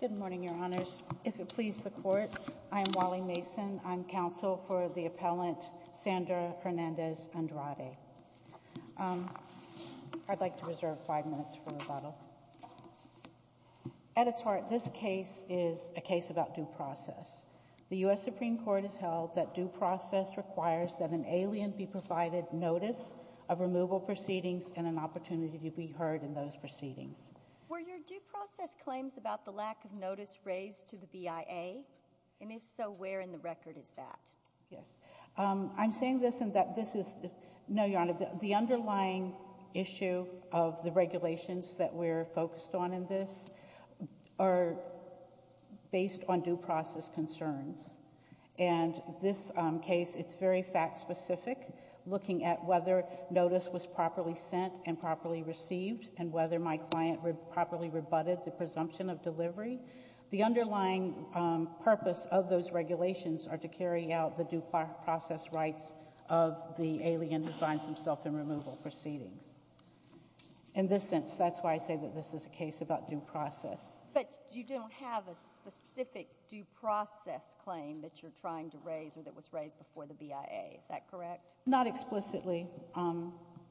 Good morning, Your Honors. If it please the Court, I am Wally Mason. I am counsel for the appellant Sandra Hernandez-Andrade. I'd like to reserve five minutes for rebuttal. At its heart, this case is a case about due process. The U.S. Supreme Court has held that due process requires that an alien be provided notice of removal proceedings and an opportunity to be heard in those proceedings. Were your due process claims about the lack of notice raised to the BIA? And if so, where in the record is that? Yes. I'm saying this in that this is the underlying issue of the regulations that we're focused on in this are based on due process concerns. And this case, it's very fact-specific, looking at whether notice was properly sent and properly received and whether my client properly rebutted the presumption of delivery. The underlying purpose of those regulations are to carry out the due process rights of the alien who finds himself in removal proceedings. In this sense, that's why I say that this is a case about due process. But you don't have a specific due process claim that you're trying to raise or that was raised before the BIA. Is that correct? Not explicitly.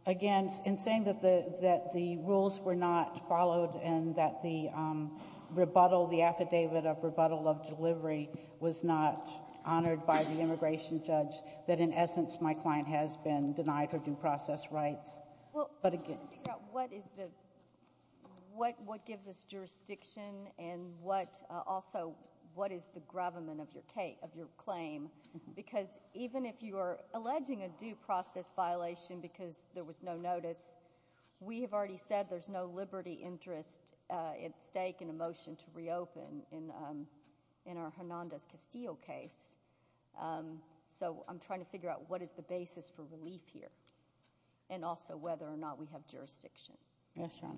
Again, in saying that the rules were not followed and that the affidavit of rebuttal of delivery was not honored by the immigration judge, that in essence, my client has been denied her due process rights. But again, what gives us jurisdiction and also what is the gravamen of your claim? Because even if you are alleging a due process violation because there was no notice, we have already said there's no liberty interest at stake in a motion to reopen in our Hernandez-Castillo case. So I'm trying to figure out what is the basis for relief here and also whether or not we have jurisdiction. Yes, Your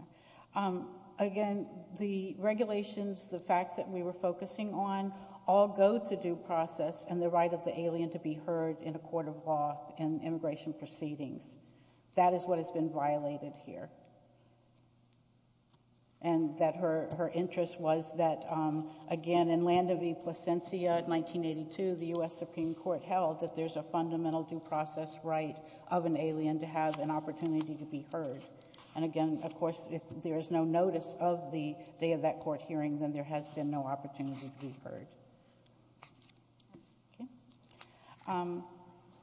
Honor. Again, the regulations, the facts that we were focusing on all go to due process and the right of the alien to be heard in a court of law and immigration proceedings. That is what has been violated here. And that her interest was that, again, in Landa V. Plasencia, 1982, the US Supreme Court held that there's a fundamental due process right of an alien to have an opportunity to be heard. And again, of course, if there is no notice of the day of that court hearing, then there has been no opportunity to be heard.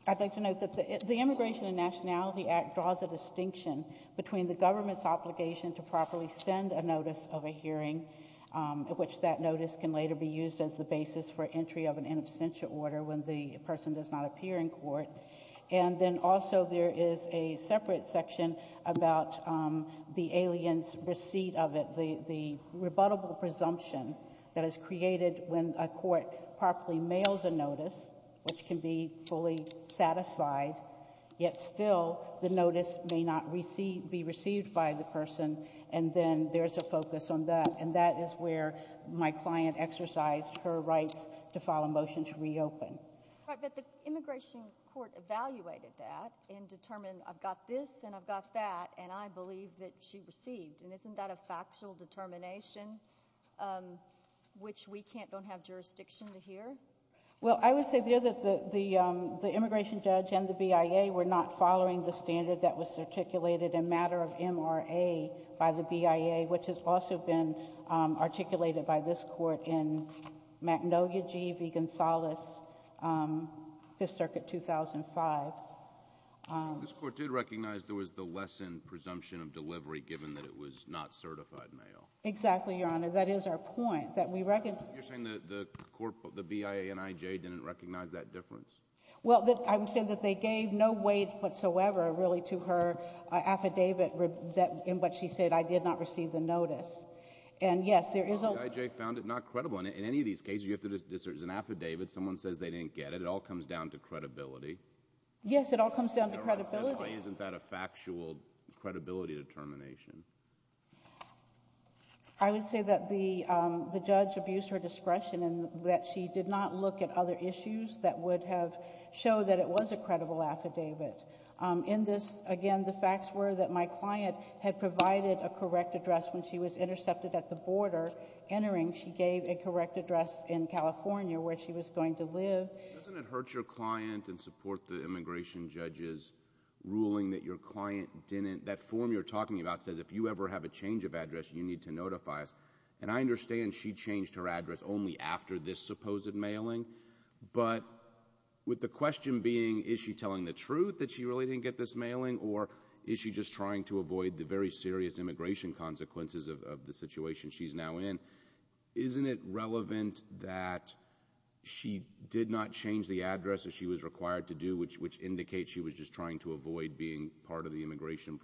I'd like to note that the Immigration and Nationality Act draws a distinction between the government's obligation to properly send a notice of a hearing, which that notice can later be used as the basis for entry of an in absentia order when the person does not appear in court. And then also there is a separate section about the alien's receipt of it, the rebuttable presumption that is created when a court properly mails a notice, which can be fully satisfied, yet still the notice may not be received by the person. And then there is a focus on that. And that is where my client exercised her rights to file a motion to reopen. But the immigration court evaluated that and determined, I've got this and I've got that, and I believe that she received. And isn't that a factual determination, which we don't have jurisdiction to hear? Well, I would say there that the immigration judge and the BIA were not following the standard that was articulated in matter of MRA by the BIA, which has also been articulated by this court in Magnolia G.V. Gonzales, Fifth Circuit, 2005. This court did recognize there was the lessened presumption of delivery, given that it was not certified mail. Exactly, Your Honor. That is our point, that we recognize. You're saying that the BIA and IJ didn't recognize that difference? Well, I'm saying that they gave no weight whatsoever, really, to her affidavit in which she said, I did not receive the notice. And yes, there is a lot. Well, the IJ found it not credible. And in any of these cases, you have to discern. It's an affidavit. Someone says they didn't get it. It all comes down to credibility. Yes, it all comes down to credibility. Why isn't that a factual credibility determination? I would say that the judge abused her discretion and that she did not look at other issues that would have showed that it was a credible affidavit. In this, again, the facts were that my client had provided a correct address when she was intercepted at the border. Entering, she gave a correct address in California where she was going to live. Doesn't it hurt your client and support the immigration judge's ruling that your client didn't, that form you're talking about says if you ever have a change of address, you need to notify us. And I understand she changed her address only after this supposed mailing. But with the question being, is she telling the truth that she really didn't get this mailing? Or is she just trying to avoid the very serious immigration consequences of the situation she's now in? Isn't it relevant that she did not change the address as she was required to do, which indicates she was just trying to avoid being part of the immigration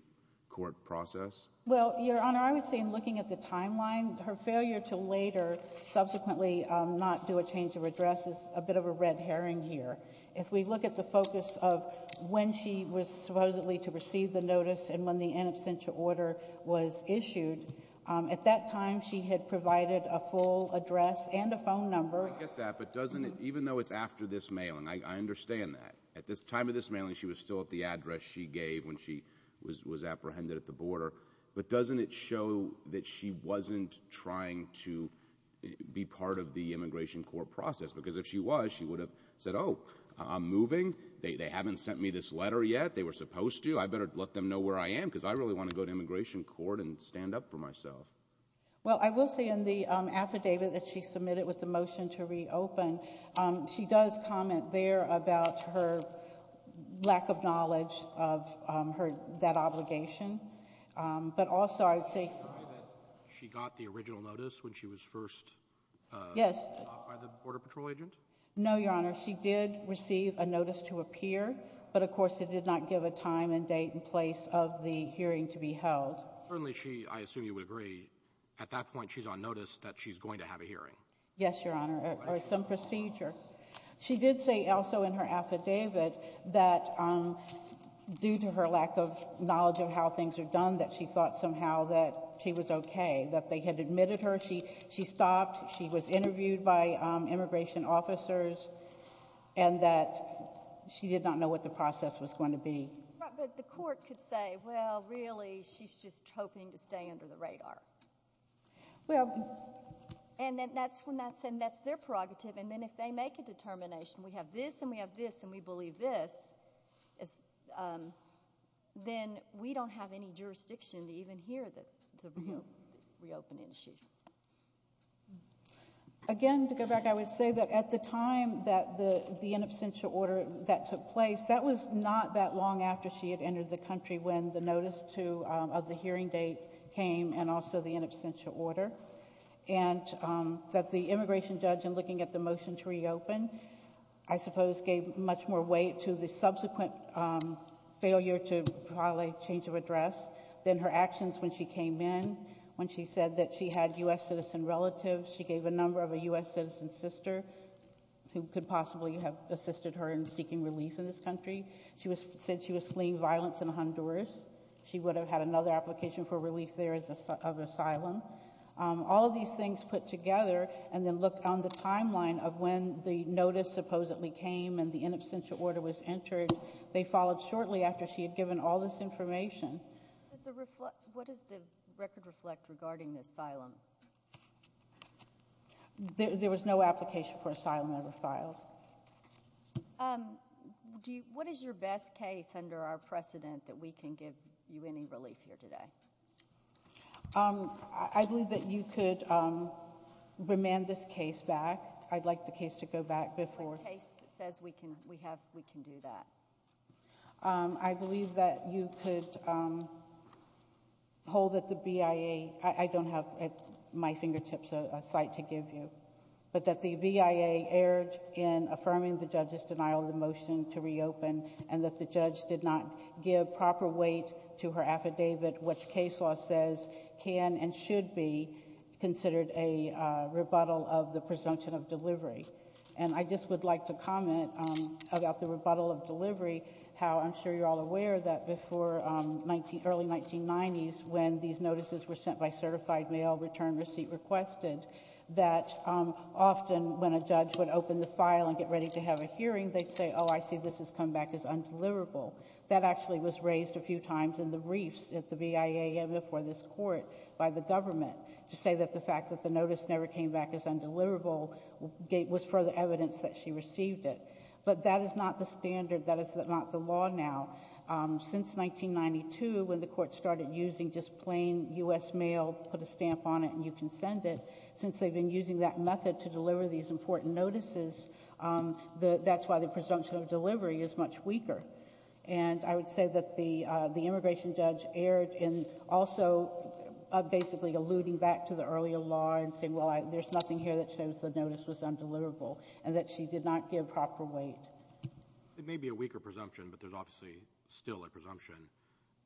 court process? Well, Your Honor, I would say in looking at the timeline, her failure to later subsequently not do a change of address is a bit of a red herring here. If we look at the focus of when she was supposedly to receive the notice and when the in absentia order was issued, at that time she had provided a full address and a phone number. I get that. But doesn't it, even though it's after this mailing, I understand that. At this time of this mailing, she was still at the address she gave when she was apprehended at the border. But doesn't it show that she wasn't trying to be part of the immigration court process? Because if she was, she would have said, oh, I'm moving. They haven't sent me this letter yet. They were supposed to. I better let them know where I am, because I really want to go to immigration court and stand up for myself. Well, I will say in the affidavit that she submitted with the motion to reopen, she does comment there about her lack of knowledge of that obligation. But also I'd say that she got the original notice when she was first stopped by the Border Patrol agent? No, Your Honor. She did receive a notice to appear. But of course, it did not give a time and date and place of the hearing to be held. Certainly she, I assume you would agree, at that point she's on notice that she's going to have a hearing. Yes, Your Honor, or some procedure. She did say also in her affidavit that due to her lack of knowledge of how things are done, that she thought somehow that she was OK, that they had admitted her, she stopped, she was interviewed by immigration officers, and that she did not know what the process was going to be. The court could say, well, really, she's just hoping to stay under the radar. And that's their prerogative. And then if they make a determination, we have this, and we have this, and we believe this, then we don't have any jurisdiction even here to reopen the institution. Again, to go back, I would say that at the time that the in absentia order that took place, that was not that long after she had entered the country when the notice of the hearing date came and also the in absentia order. And that the immigration judge, in looking at the motion to reopen, I suppose gave much more weight to the subsequent failure to file a change of address than her actions when she came in, when she said that she had US citizen relatives. She gave a number of a US citizen sister who could possibly have assisted her in seeking relief in this country. She said she was fleeing violence in Honduras. She would have had another application for relief there of asylum. All of these things put together, and then look on the timeline of when the notice supposedly came and the in absentia order was entered. They followed shortly after she had given all this information. What does the record reflect regarding the asylum? There was no application for asylum ever filed. What is your best case under our precedent that we can give you any relief here today? I believe that you could remand this case back. I'd like the case to go back before. The case says we can do that. I believe that you could hold that the BIA, I don't have at my fingertips a site to give you, but that the BIA erred in affirming the judge's denial of the motion to reopen, and that the judge did not give proper weight to her affidavit, which case law says can and should be considered a rebuttal of the presumption of delivery. And I just would like to comment about the rebuttal of delivery, how I'm sure you're all aware that before early 1990s, when these notices were sent by certified mail, return receipt requested, that often when a judge would open the file and get ready to have a hearing, they'd say, oh, I see this has come back as undeliverable. That actually was raised a few times in the briefs at the BIA and before this court by the government, to say that the fact that the notice never came back as undeliverable was further evidence that she received it. But that is not the standard. That is not the law now. Since 1992, when the court started using just plain US mail, put a stamp on it and you can send it, since they've been using that method to deliver these important notices, that's why the presumption of delivery is much weaker. And I would say that the immigration judge erred in also basically alluding back to the earlier law and saying, well, there's nothing here that shows the notice was undeliverable and that she did not give proper weight. It may be a weaker presumption, but there's obviously still a presumption.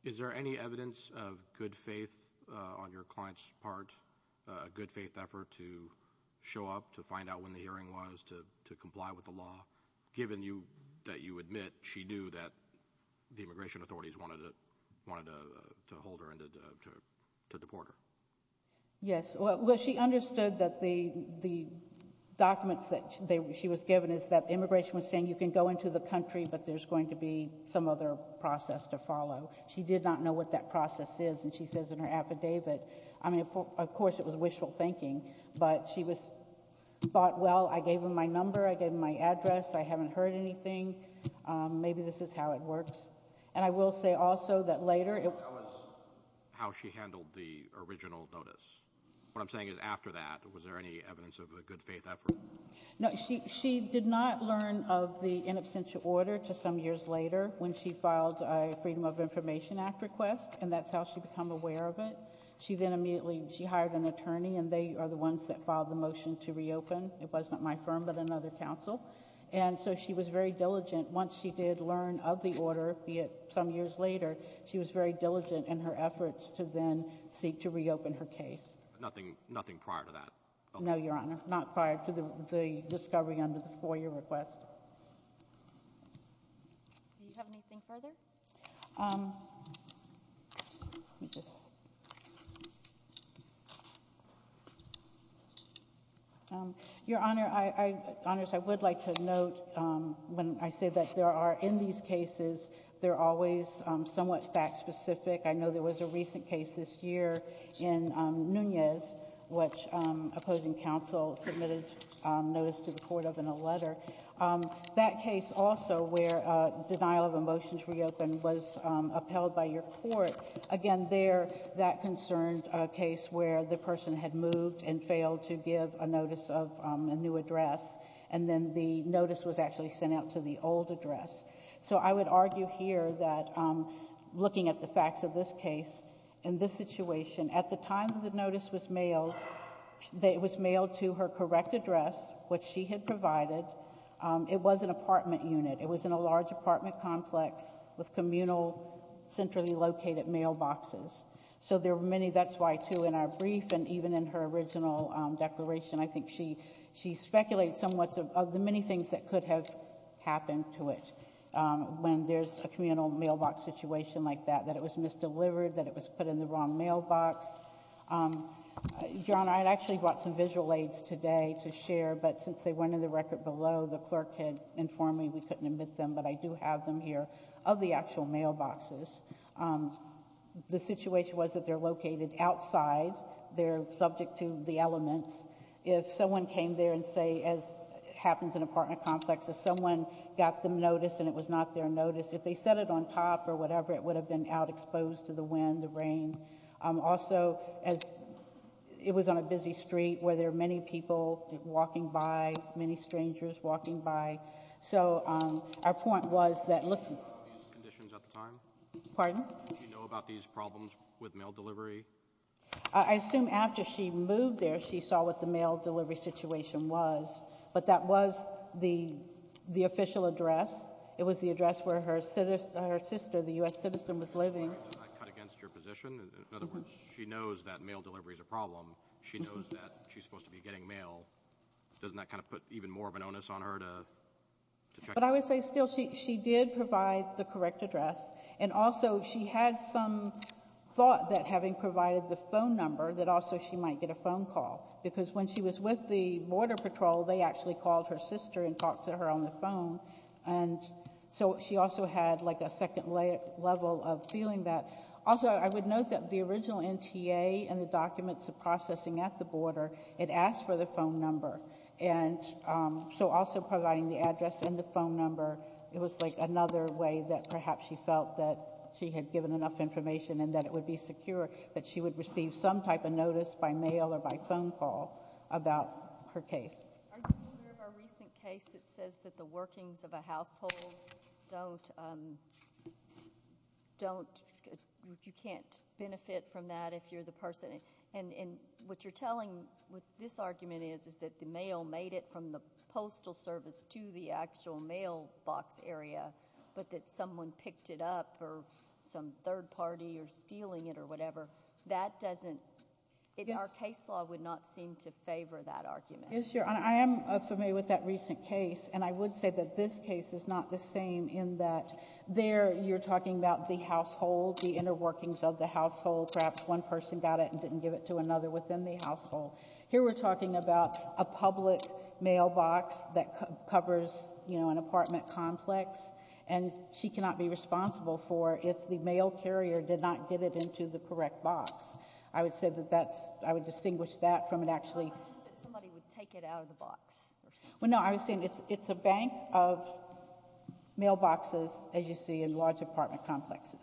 Is there any evidence of good faith on your client's part, a good faith effort to show up, to find out when the hearing was, to comply with the law, given that you admit she knew that the immigration authorities wanted to hold her and to deport her? Yes. Well, she understood that the documents that she was given is that immigration was saying you can go into the country, but there's going to be some other process to follow. She did not know what that process is. And she says in her affidavit, I mean, of course, it was wishful thinking. But she was thought, well, I gave him my number. I gave him my address. I haven't heard anything. Maybe this is how it works. And I will say also that later, it was how she handled the original notice. What I'm saying is after that, was there any evidence of a good faith effort? No, she did not learn of the in absentia order to some years later when she filed a Freedom of Information Act request. And that's how she become aware of it. She then immediately, she hired an attorney. And they are the ones that filed the motion to reopen. It was not my firm, but another counsel. And so she was very diligent. Once she did learn of the order, be it some years later, she was very diligent in her efforts to then seek to reopen her case. Nothing prior to that? No, Your Honor, not prior to the discovery under the four-year request. Do you have anything further? Your Honor, I would like to note when I say that there are, in these cases, they're always somewhat fact-specific. I know there was a recent case this year in Nunez, which opposing counsel submitted notice to the court of in a letter. That case also, where denial of a motion to reopen was upheld by your court. Again, there, that concerned a case where the person had moved and failed to give a notice of a new address. And then the notice was actually sent out to the old address. So I would argue here that, looking at the facts of this case, in this situation, at the time the notice was mailed, it was mailed to her correct address, which she had provided. It was an apartment unit. It was in a large apartment complex with communal, centrally located mailboxes. So there were many, that's why, too, in our brief and even in her original declaration, I think she speculates somewhat of the many things that could have happened to it when there's a communal mailbox situation like that, that it was misdelivered, that it was put in the wrong mailbox. Your Honor, I'd actually brought some visual aids today to share. But since they went in the record below, the clerk had informed me we couldn't admit them. But I do have them here of the actual mailboxes. The situation was that they're located outside. They're subject to the elements. If someone came there and say, as happens in apartment complex, if someone got them notice and it was not their notice, if they set it on top or whatever, it would have been out exposed to the wind, the rain. Also, it was on a busy street where there are many people walking by, many strangers walking by. So our point was that look. Did she know about these conditions at the time? Pardon? Did she know about these problems with mail delivery? I assume after she moved there, she saw what the mail delivery situation was. But that was the official address. It was the address where her sister, the US citizen, was living. Does that cut against your position? In other words, she knows that mail delivery is a problem. She knows that she's supposed to be getting mail. Doesn't that kind of put even more of an onus on her to check? But I would say still, she did provide the correct address. And also, she had some thought that having provided the phone number, that also she might get a phone call. Because when she was with the Border Patrol, they actually called her sister and talked to her on the phone. And so she also had a second level of feeling that. Also, I would note that the original NTA and the documents of processing at the border, it asked for the phone number. And so also providing the address and the phone number, it was another way that perhaps she felt that she had given enough information and that it would be secure that she would receive some type of notice by mail or by phone call about her case. Are you aware of a recent case that says that the workings of a household don't, you can't benefit from that if you're the person? And what you're telling, what this argument is, is that the mail made it from the postal service to the actual mailbox area, but that someone picked it up or some third party are stealing it or whatever. That doesn't, our case law would not seem to favor that argument. Yes, Your Honor. I am familiar with that recent case. And I would say that this case is not the same in that there you're talking about the household, the inner workings of the household. Perhaps one person got it and didn't give it to another within the household. Here we're talking about a public mailbox that covers an apartment complex. And she cannot be responsible for if the mail carrier did not get it into the correct box. I would say that that's, I would distinguish that from it actually. I'm not interested that somebody would take it out of the box. Well, no, I was saying it's a bank of mailboxes, as you see, in large apartment complexes.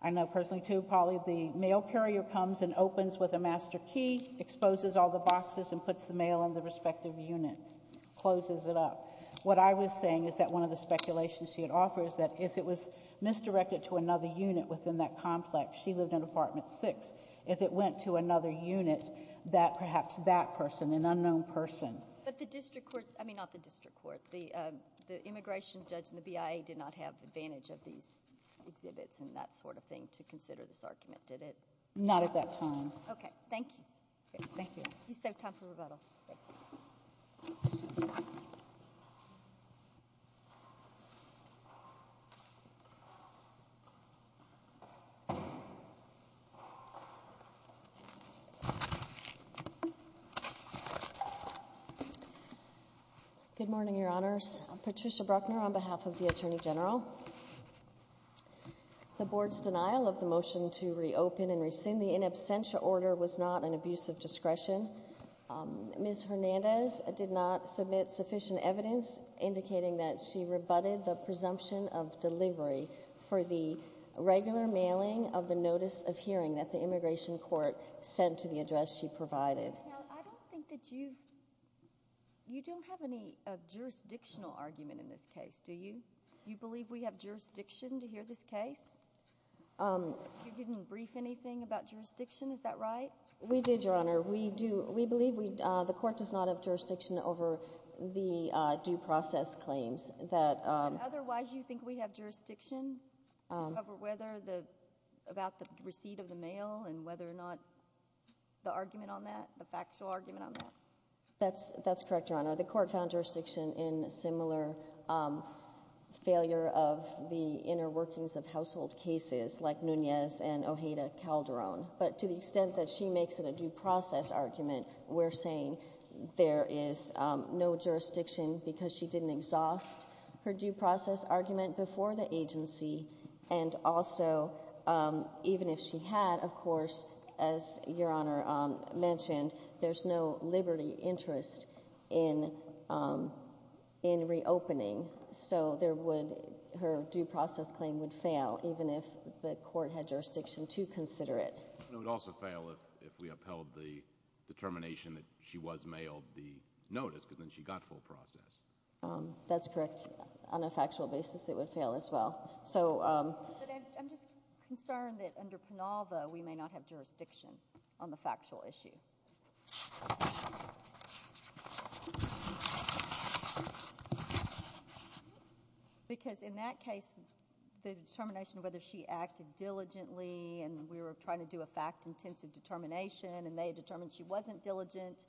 I know personally, too, Polly, the mail carrier comes and opens with a master key, exposes all the boxes, and puts the mail in the respective units, closes it up. What I was saying is that one of the speculations she had offered is that if it was misdirected to another unit within that complex, she lived in apartment six. If it went to another unit, that perhaps that person, an unknown person. But the district court, I mean, not the district court, the immigration judge and the BIA did not have advantage of these exhibits and that sort of thing to consider this argument, did it? Not at that time. OK, thank you. Thank you. You saved time for rebuttal. Thank you. Good morning, Your Honors. Patricia Bruckner on behalf of the Attorney General. The board's denial of the motion to reopen and rescind the in absentia order was not an abuse of discretion. Ms. Hernandez did not submit sufficient evidence indicating that she rebutted the presumption of delivery for the regular mailing of the notice of hearing that the immigration court sent to the address she provided. Now, I don't think that you've, you don't have any jurisdictional argument in this case, do you? You believe we have jurisdiction to hear this case? You didn't brief anything about jurisdiction, is that right? We did, Your Honor. We do. We believe we, the court does not have jurisdiction over the due process claims that. Otherwise, you think we have jurisdiction over whether the, about the receipt of the mail and whether or not the argument on that, the factual argument on that? That's correct, Your Honor. The court found jurisdiction in similar failure of the inner workings of household cases like Nunez and Ojeda Calderon. But to the extent that she makes it a due process argument, we're saying there is no jurisdiction because she didn't exhaust her due process argument before the agency. And also, even if she had, of course, as Your Honor mentioned, there's no liberty interest in reopening. So there would, her due process claim would fail, even if the court had jurisdiction to consider it. It would also fail if we upheld the determination that she was mailed the notice, because then she got full process. That's correct. On a factual basis, it would fail as well. So I'm just concerned that under Penalva, we may not have jurisdiction on the factual issue. Because in that case, the determination of whether she acted diligently, and we were trying to do a fact-intensive determination, and they determined she wasn't diligent,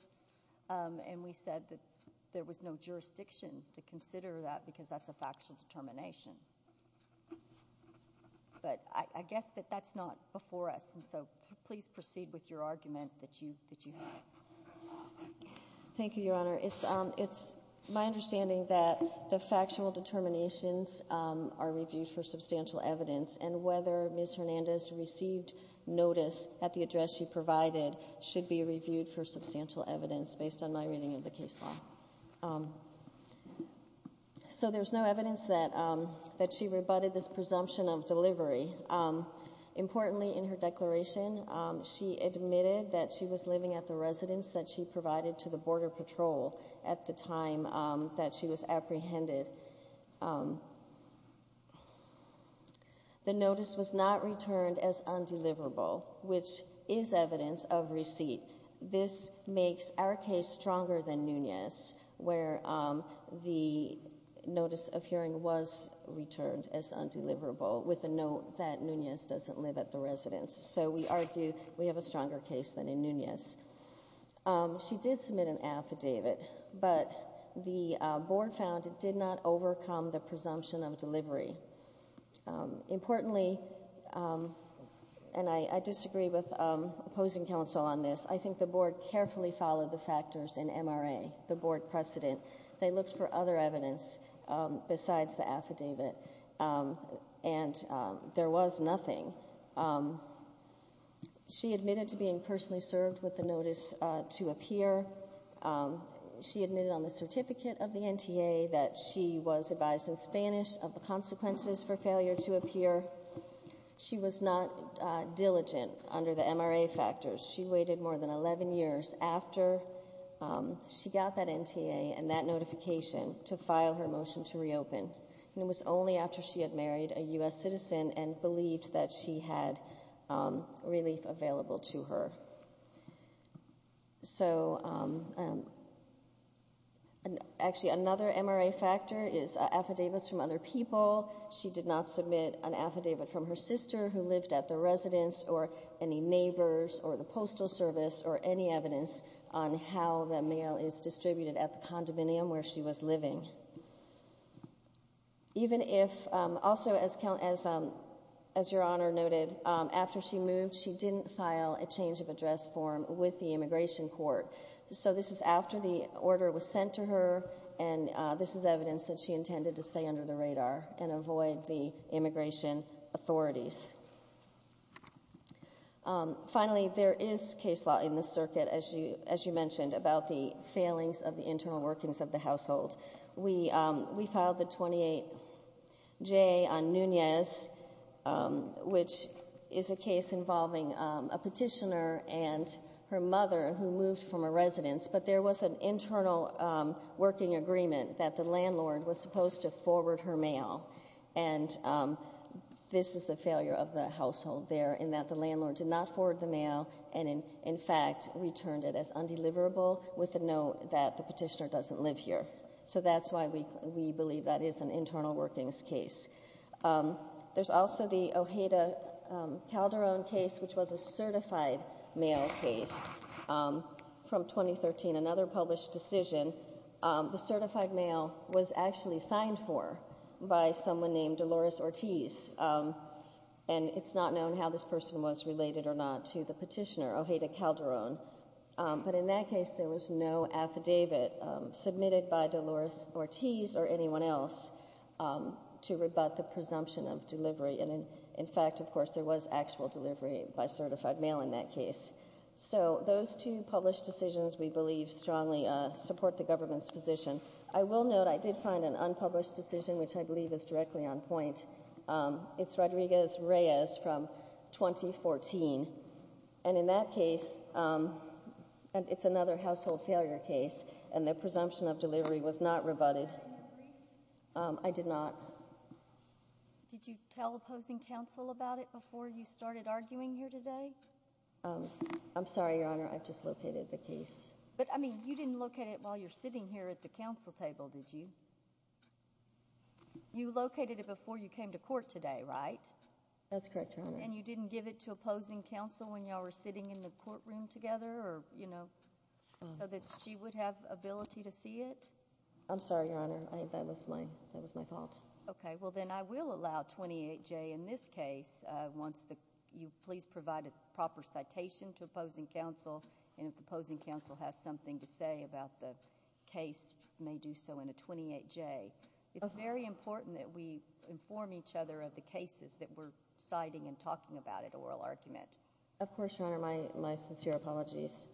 and we said that there was no jurisdiction to consider that, because that's a factual determination. But I guess that that's not before us. And so please proceed with your argument that you have. Thank you, Your Honor. It's my understanding that the factual determinations are reviewed for substantial evidence, and whether Ms. Hernandez received notice at the address she provided should be reviewed for substantial evidence, based on my reading of the case law. So there's no evidence that she rebutted this presumption of delivery. Importantly, in her declaration, she admitted that she was living at the residence that she provided to the Border Patrol at the time that she was apprehended. The notice was not returned as undeliverable, which is evidence of receipt. This makes our case stronger than Nunez, where the notice of hearing was returned as undeliverable, with a note that Nunez doesn't live at the residence. So we argue we have a stronger case than in Nunez. She did submit an affidavit, but the board found it did not overcome the presumption of delivery. Importantly, and I disagree with opposing counsel on this, I think the board carefully followed the factors in MRA, the board precedent. They looked for other evidence besides the affidavit, and there was nothing. She admitted to being personally served with the notice to appear. She admitted on the certificate of the NTA that she was advised in Spanish of the consequences for failure to appear. She was not diligent under the MRA factors. She waited more than 11 years after she got that NTA and that notification to file her motion to reopen. And it was only after she had married a US citizen and believed that she had relief available to her. So actually, another MRA factor is affidavits from other people. She did not submit an affidavit from her sister who lived at the residence, or any neighbors, or the postal service, or any evidence on how the mail is distributed at the condominium where she was living. Even if, also as your honor noted, after she moved, she didn't file a change of address form with the immigration court. So this is after the order was sent to her, and this is evidence that she intended to stay under the radar and avoid the immigration authorities. Finally, there is case law in the circuit, as you mentioned, about the failings of the internal workings of the household. We filed the 28J on Nunez, which is a case involving a petitioner and her mother, who moved from a residence. But there was an internal working agreement that the landlord was supposed to forward her mail. And this is the failure of the household there, in that the landlord did not forward the mail, and in fact, returned it as undeliverable, with a note that the petitioner doesn't live here. So that's why we believe that is an internal workings case. There's also the Ojeda Calderon case, which was a certified mail case from 2013, another published decision. The certified mail was actually signed for by someone named Dolores Ortiz. And it's not known how this person was related or not to the petitioner, Ojeda Calderon. But in that case, there was no affidavit submitted by Dolores Ortiz or anyone else to rebut the presumption of delivery. And in fact, of course, there was actual delivery by certified mail in that case. So those two published decisions, we believe, strongly support the government's position. I will note, I did find an unpublished decision, which I believe is directly on point. It's Rodriguez-Reyes from 2014. And in that case, it's another household failure case. And the presumption of delivery was not rebutted. I did not. Did you tell opposing counsel about it before you started arguing here today? I'm sorry, Your Honor, I've just located the case. But I mean, you didn't look at it while you're sitting here at the counsel table, did you? You located it before you came to court today, right? That's correct, Your Honor. And you didn't give it to opposing counsel when y'all were sitting in the courtroom together, you know, so that she would have ability to see it? I'm sorry, Your Honor, that was my fault. OK, well, then I will allow 28J in this case once you please provide a proper citation to opposing counsel. And if opposing counsel has something to say about the case, may do so in a 28J. It's very important that we inform each other of the cases that we're citing and talking about at oral argument. Of course, Your Honor, my sincere apologies.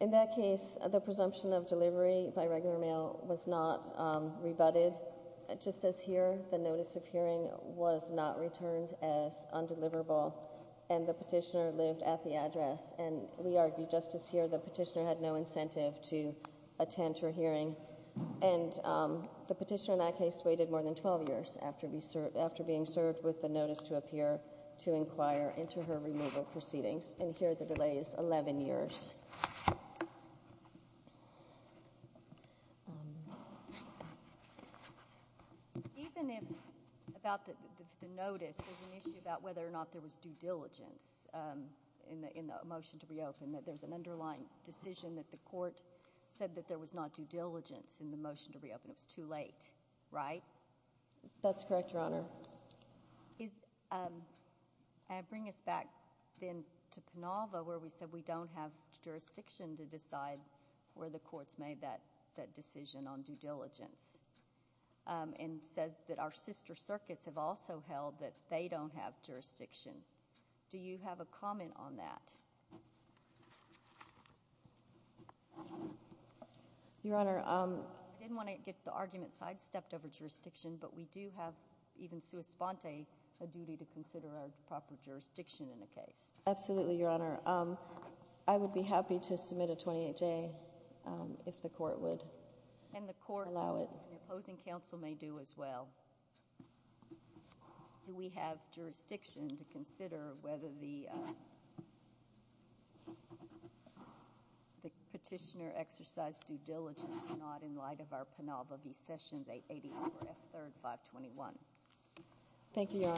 In that case, the presumption of delivery by regular mail was not rebutted. Just as here, the notice of hearing was not returned as undeliverable. And the petitioner lived at the address. And we argued just as here, the petitioner had no incentive to attend her hearing. And the petitioner in that case waited more than 12 years after being served with the notice to appear to inquire into her removal proceedings. And here, the delay is 11 years. Even about the notice, there's an issue about whether or not there was due diligence in the motion to reopen, that there's an underlying decision that the court said that there was not due diligence in the motion to reopen. It was too late, right? That's correct, Your Honor. I bring us back then to Penolva, where we said we don't have jurisdiction to decide where the court's made that decision on due diligence, and says that our sister circuits have also held that they don't have jurisdiction. Do you have a comment on that? Your Honor, I didn't want to get the argument sidestepped over jurisdiction, but we do have even sua sponte a duty to consider our proper jurisdiction in a case. Absolutely, Your Honor. I would be happy to submit a 28-J if the court would allow it. And the court and the opposing counsel may do as well. Do we have jurisdiction to consider whether the petitioner exercised due diligence or not in light of our Penolva v. Sessions 880-4F3-521? Thank you, Your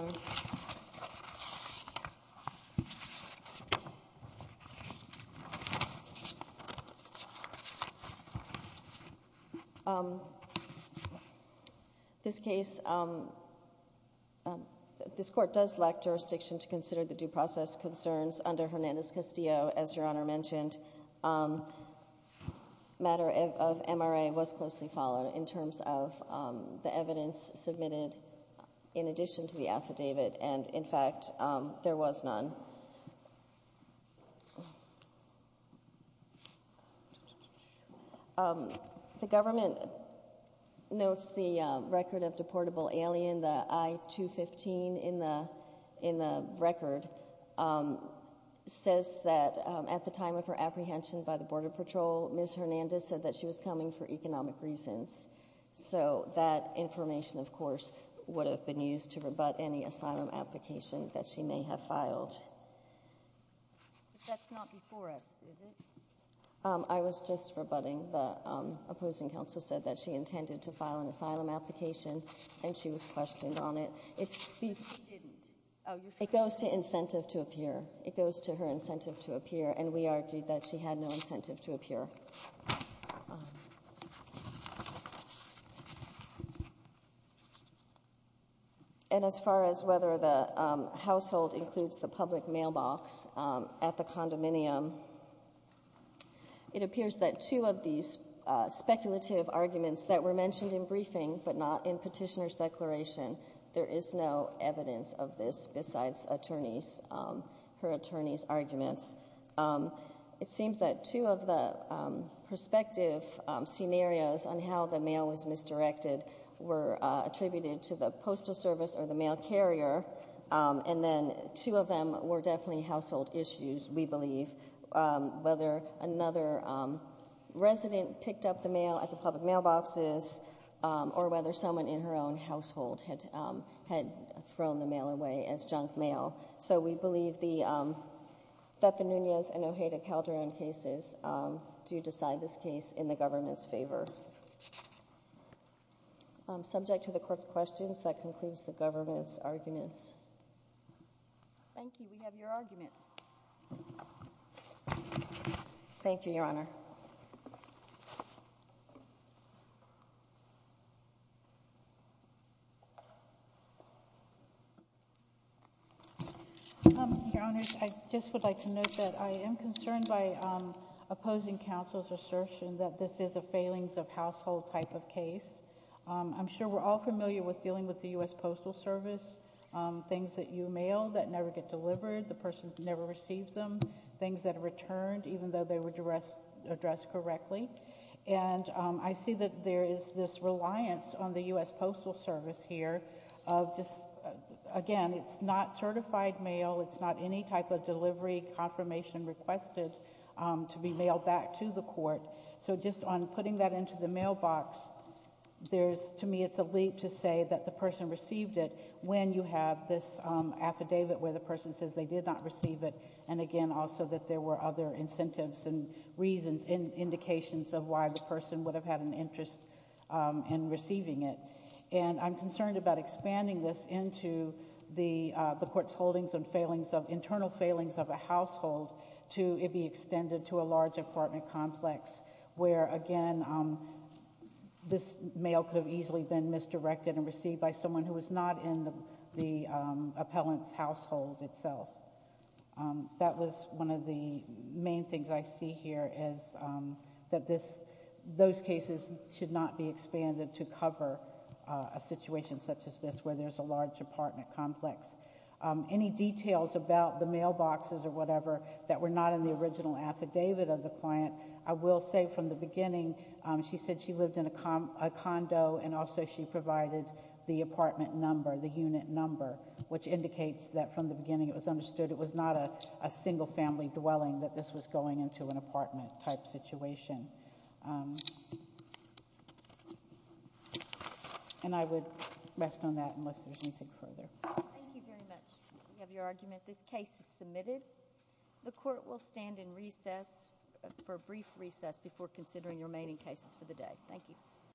Honor. This case, this court does lack jurisdiction to consider the due process concerns under Hernandez-Castillo, as Your Honor mentioned. The matter of MRA was closely followed in terms of the evidence submitted in addition to the affidavit. And in fact, there was none. The government notes the record of deportable alien, the I-215 in the record, says that at the time of her apprehension by the Border Patrol, Ms. Hernandez said that she was coming for economic reasons. So that information, of course, would have been used to rebut any asylum application that she may have filed. That's not before us, is it? I was just rebutting. The opposing counsel said that she intended to file an asylum application, and she was questioned on it. It's because she didn't. It goes to incentive to appear. It goes to her incentive to appear. And we argued that she had no incentive to appear. And as far as whether the household includes the public mailbox at the condominium, it appears that two of these speculative arguments that were mentioned in briefing, but not in petitioner's declaration, there is no evidence of this besides her attorney's arguments. It seems that two of the prospective scenarios on how the mail was misdirected were attributed to the postal service or the mail carrier. And then two of them were definitely household issues, we believe, whether another resident picked up the mail at the public mailboxes, or whether someone in her own household had thrown the mail away as junk mail. So we believe that the Nunez and Ojeda-Calderon cases do decide this case in the government's favor. Subject to the court's questions, that concludes the government's arguments. Thank you. We have your argument. Thank you, Your Honor. I just would like to note that I am concerned by opposing counsel's assertion that this is a failings-of-household type of case. I'm sure we're all familiar with dealing with the US Postal Service, things that you mail that never get delivered, the person never receives them, things that are returned, even though they were addressed correctly. And I see that there is this reliance on the US Postal Service here of just, again, it's not certified mail. It's not any type of delivery confirmation requested to be mailed back to the court. So just on putting that into the mailbox, to me, it's a leap to say that the person received it when you have this affidavit where the person says they did not receive it, and again, also that there were other incentives and reasons and indications of why the person would have had an interest in receiving it. And I'm concerned about expanding this into the court's holdings and failings of internal failings of a household to be extended to a large apartment complex, where, again, this mail could have easily been misdirected and received by someone who was not in the appellant's household itself. That was one of the main things I see here, is that those cases should not be expanded to cover a situation such as this, where there's a large apartment complex. Any details about the mailboxes or whatever that were not in the original affidavit of the client, I will say from the beginning, she said she lived in a condo, and also she provided the apartment number, the unit number, which indicates that from the beginning it was understood it was not a single family dwelling, that this was going into an apartment type situation. And I would rest on that unless there's anything further. Thank you very much. We have your argument. This case is submitted. The court will stand in recess for a brief recess before considering the remaining cases for the day. Thank you.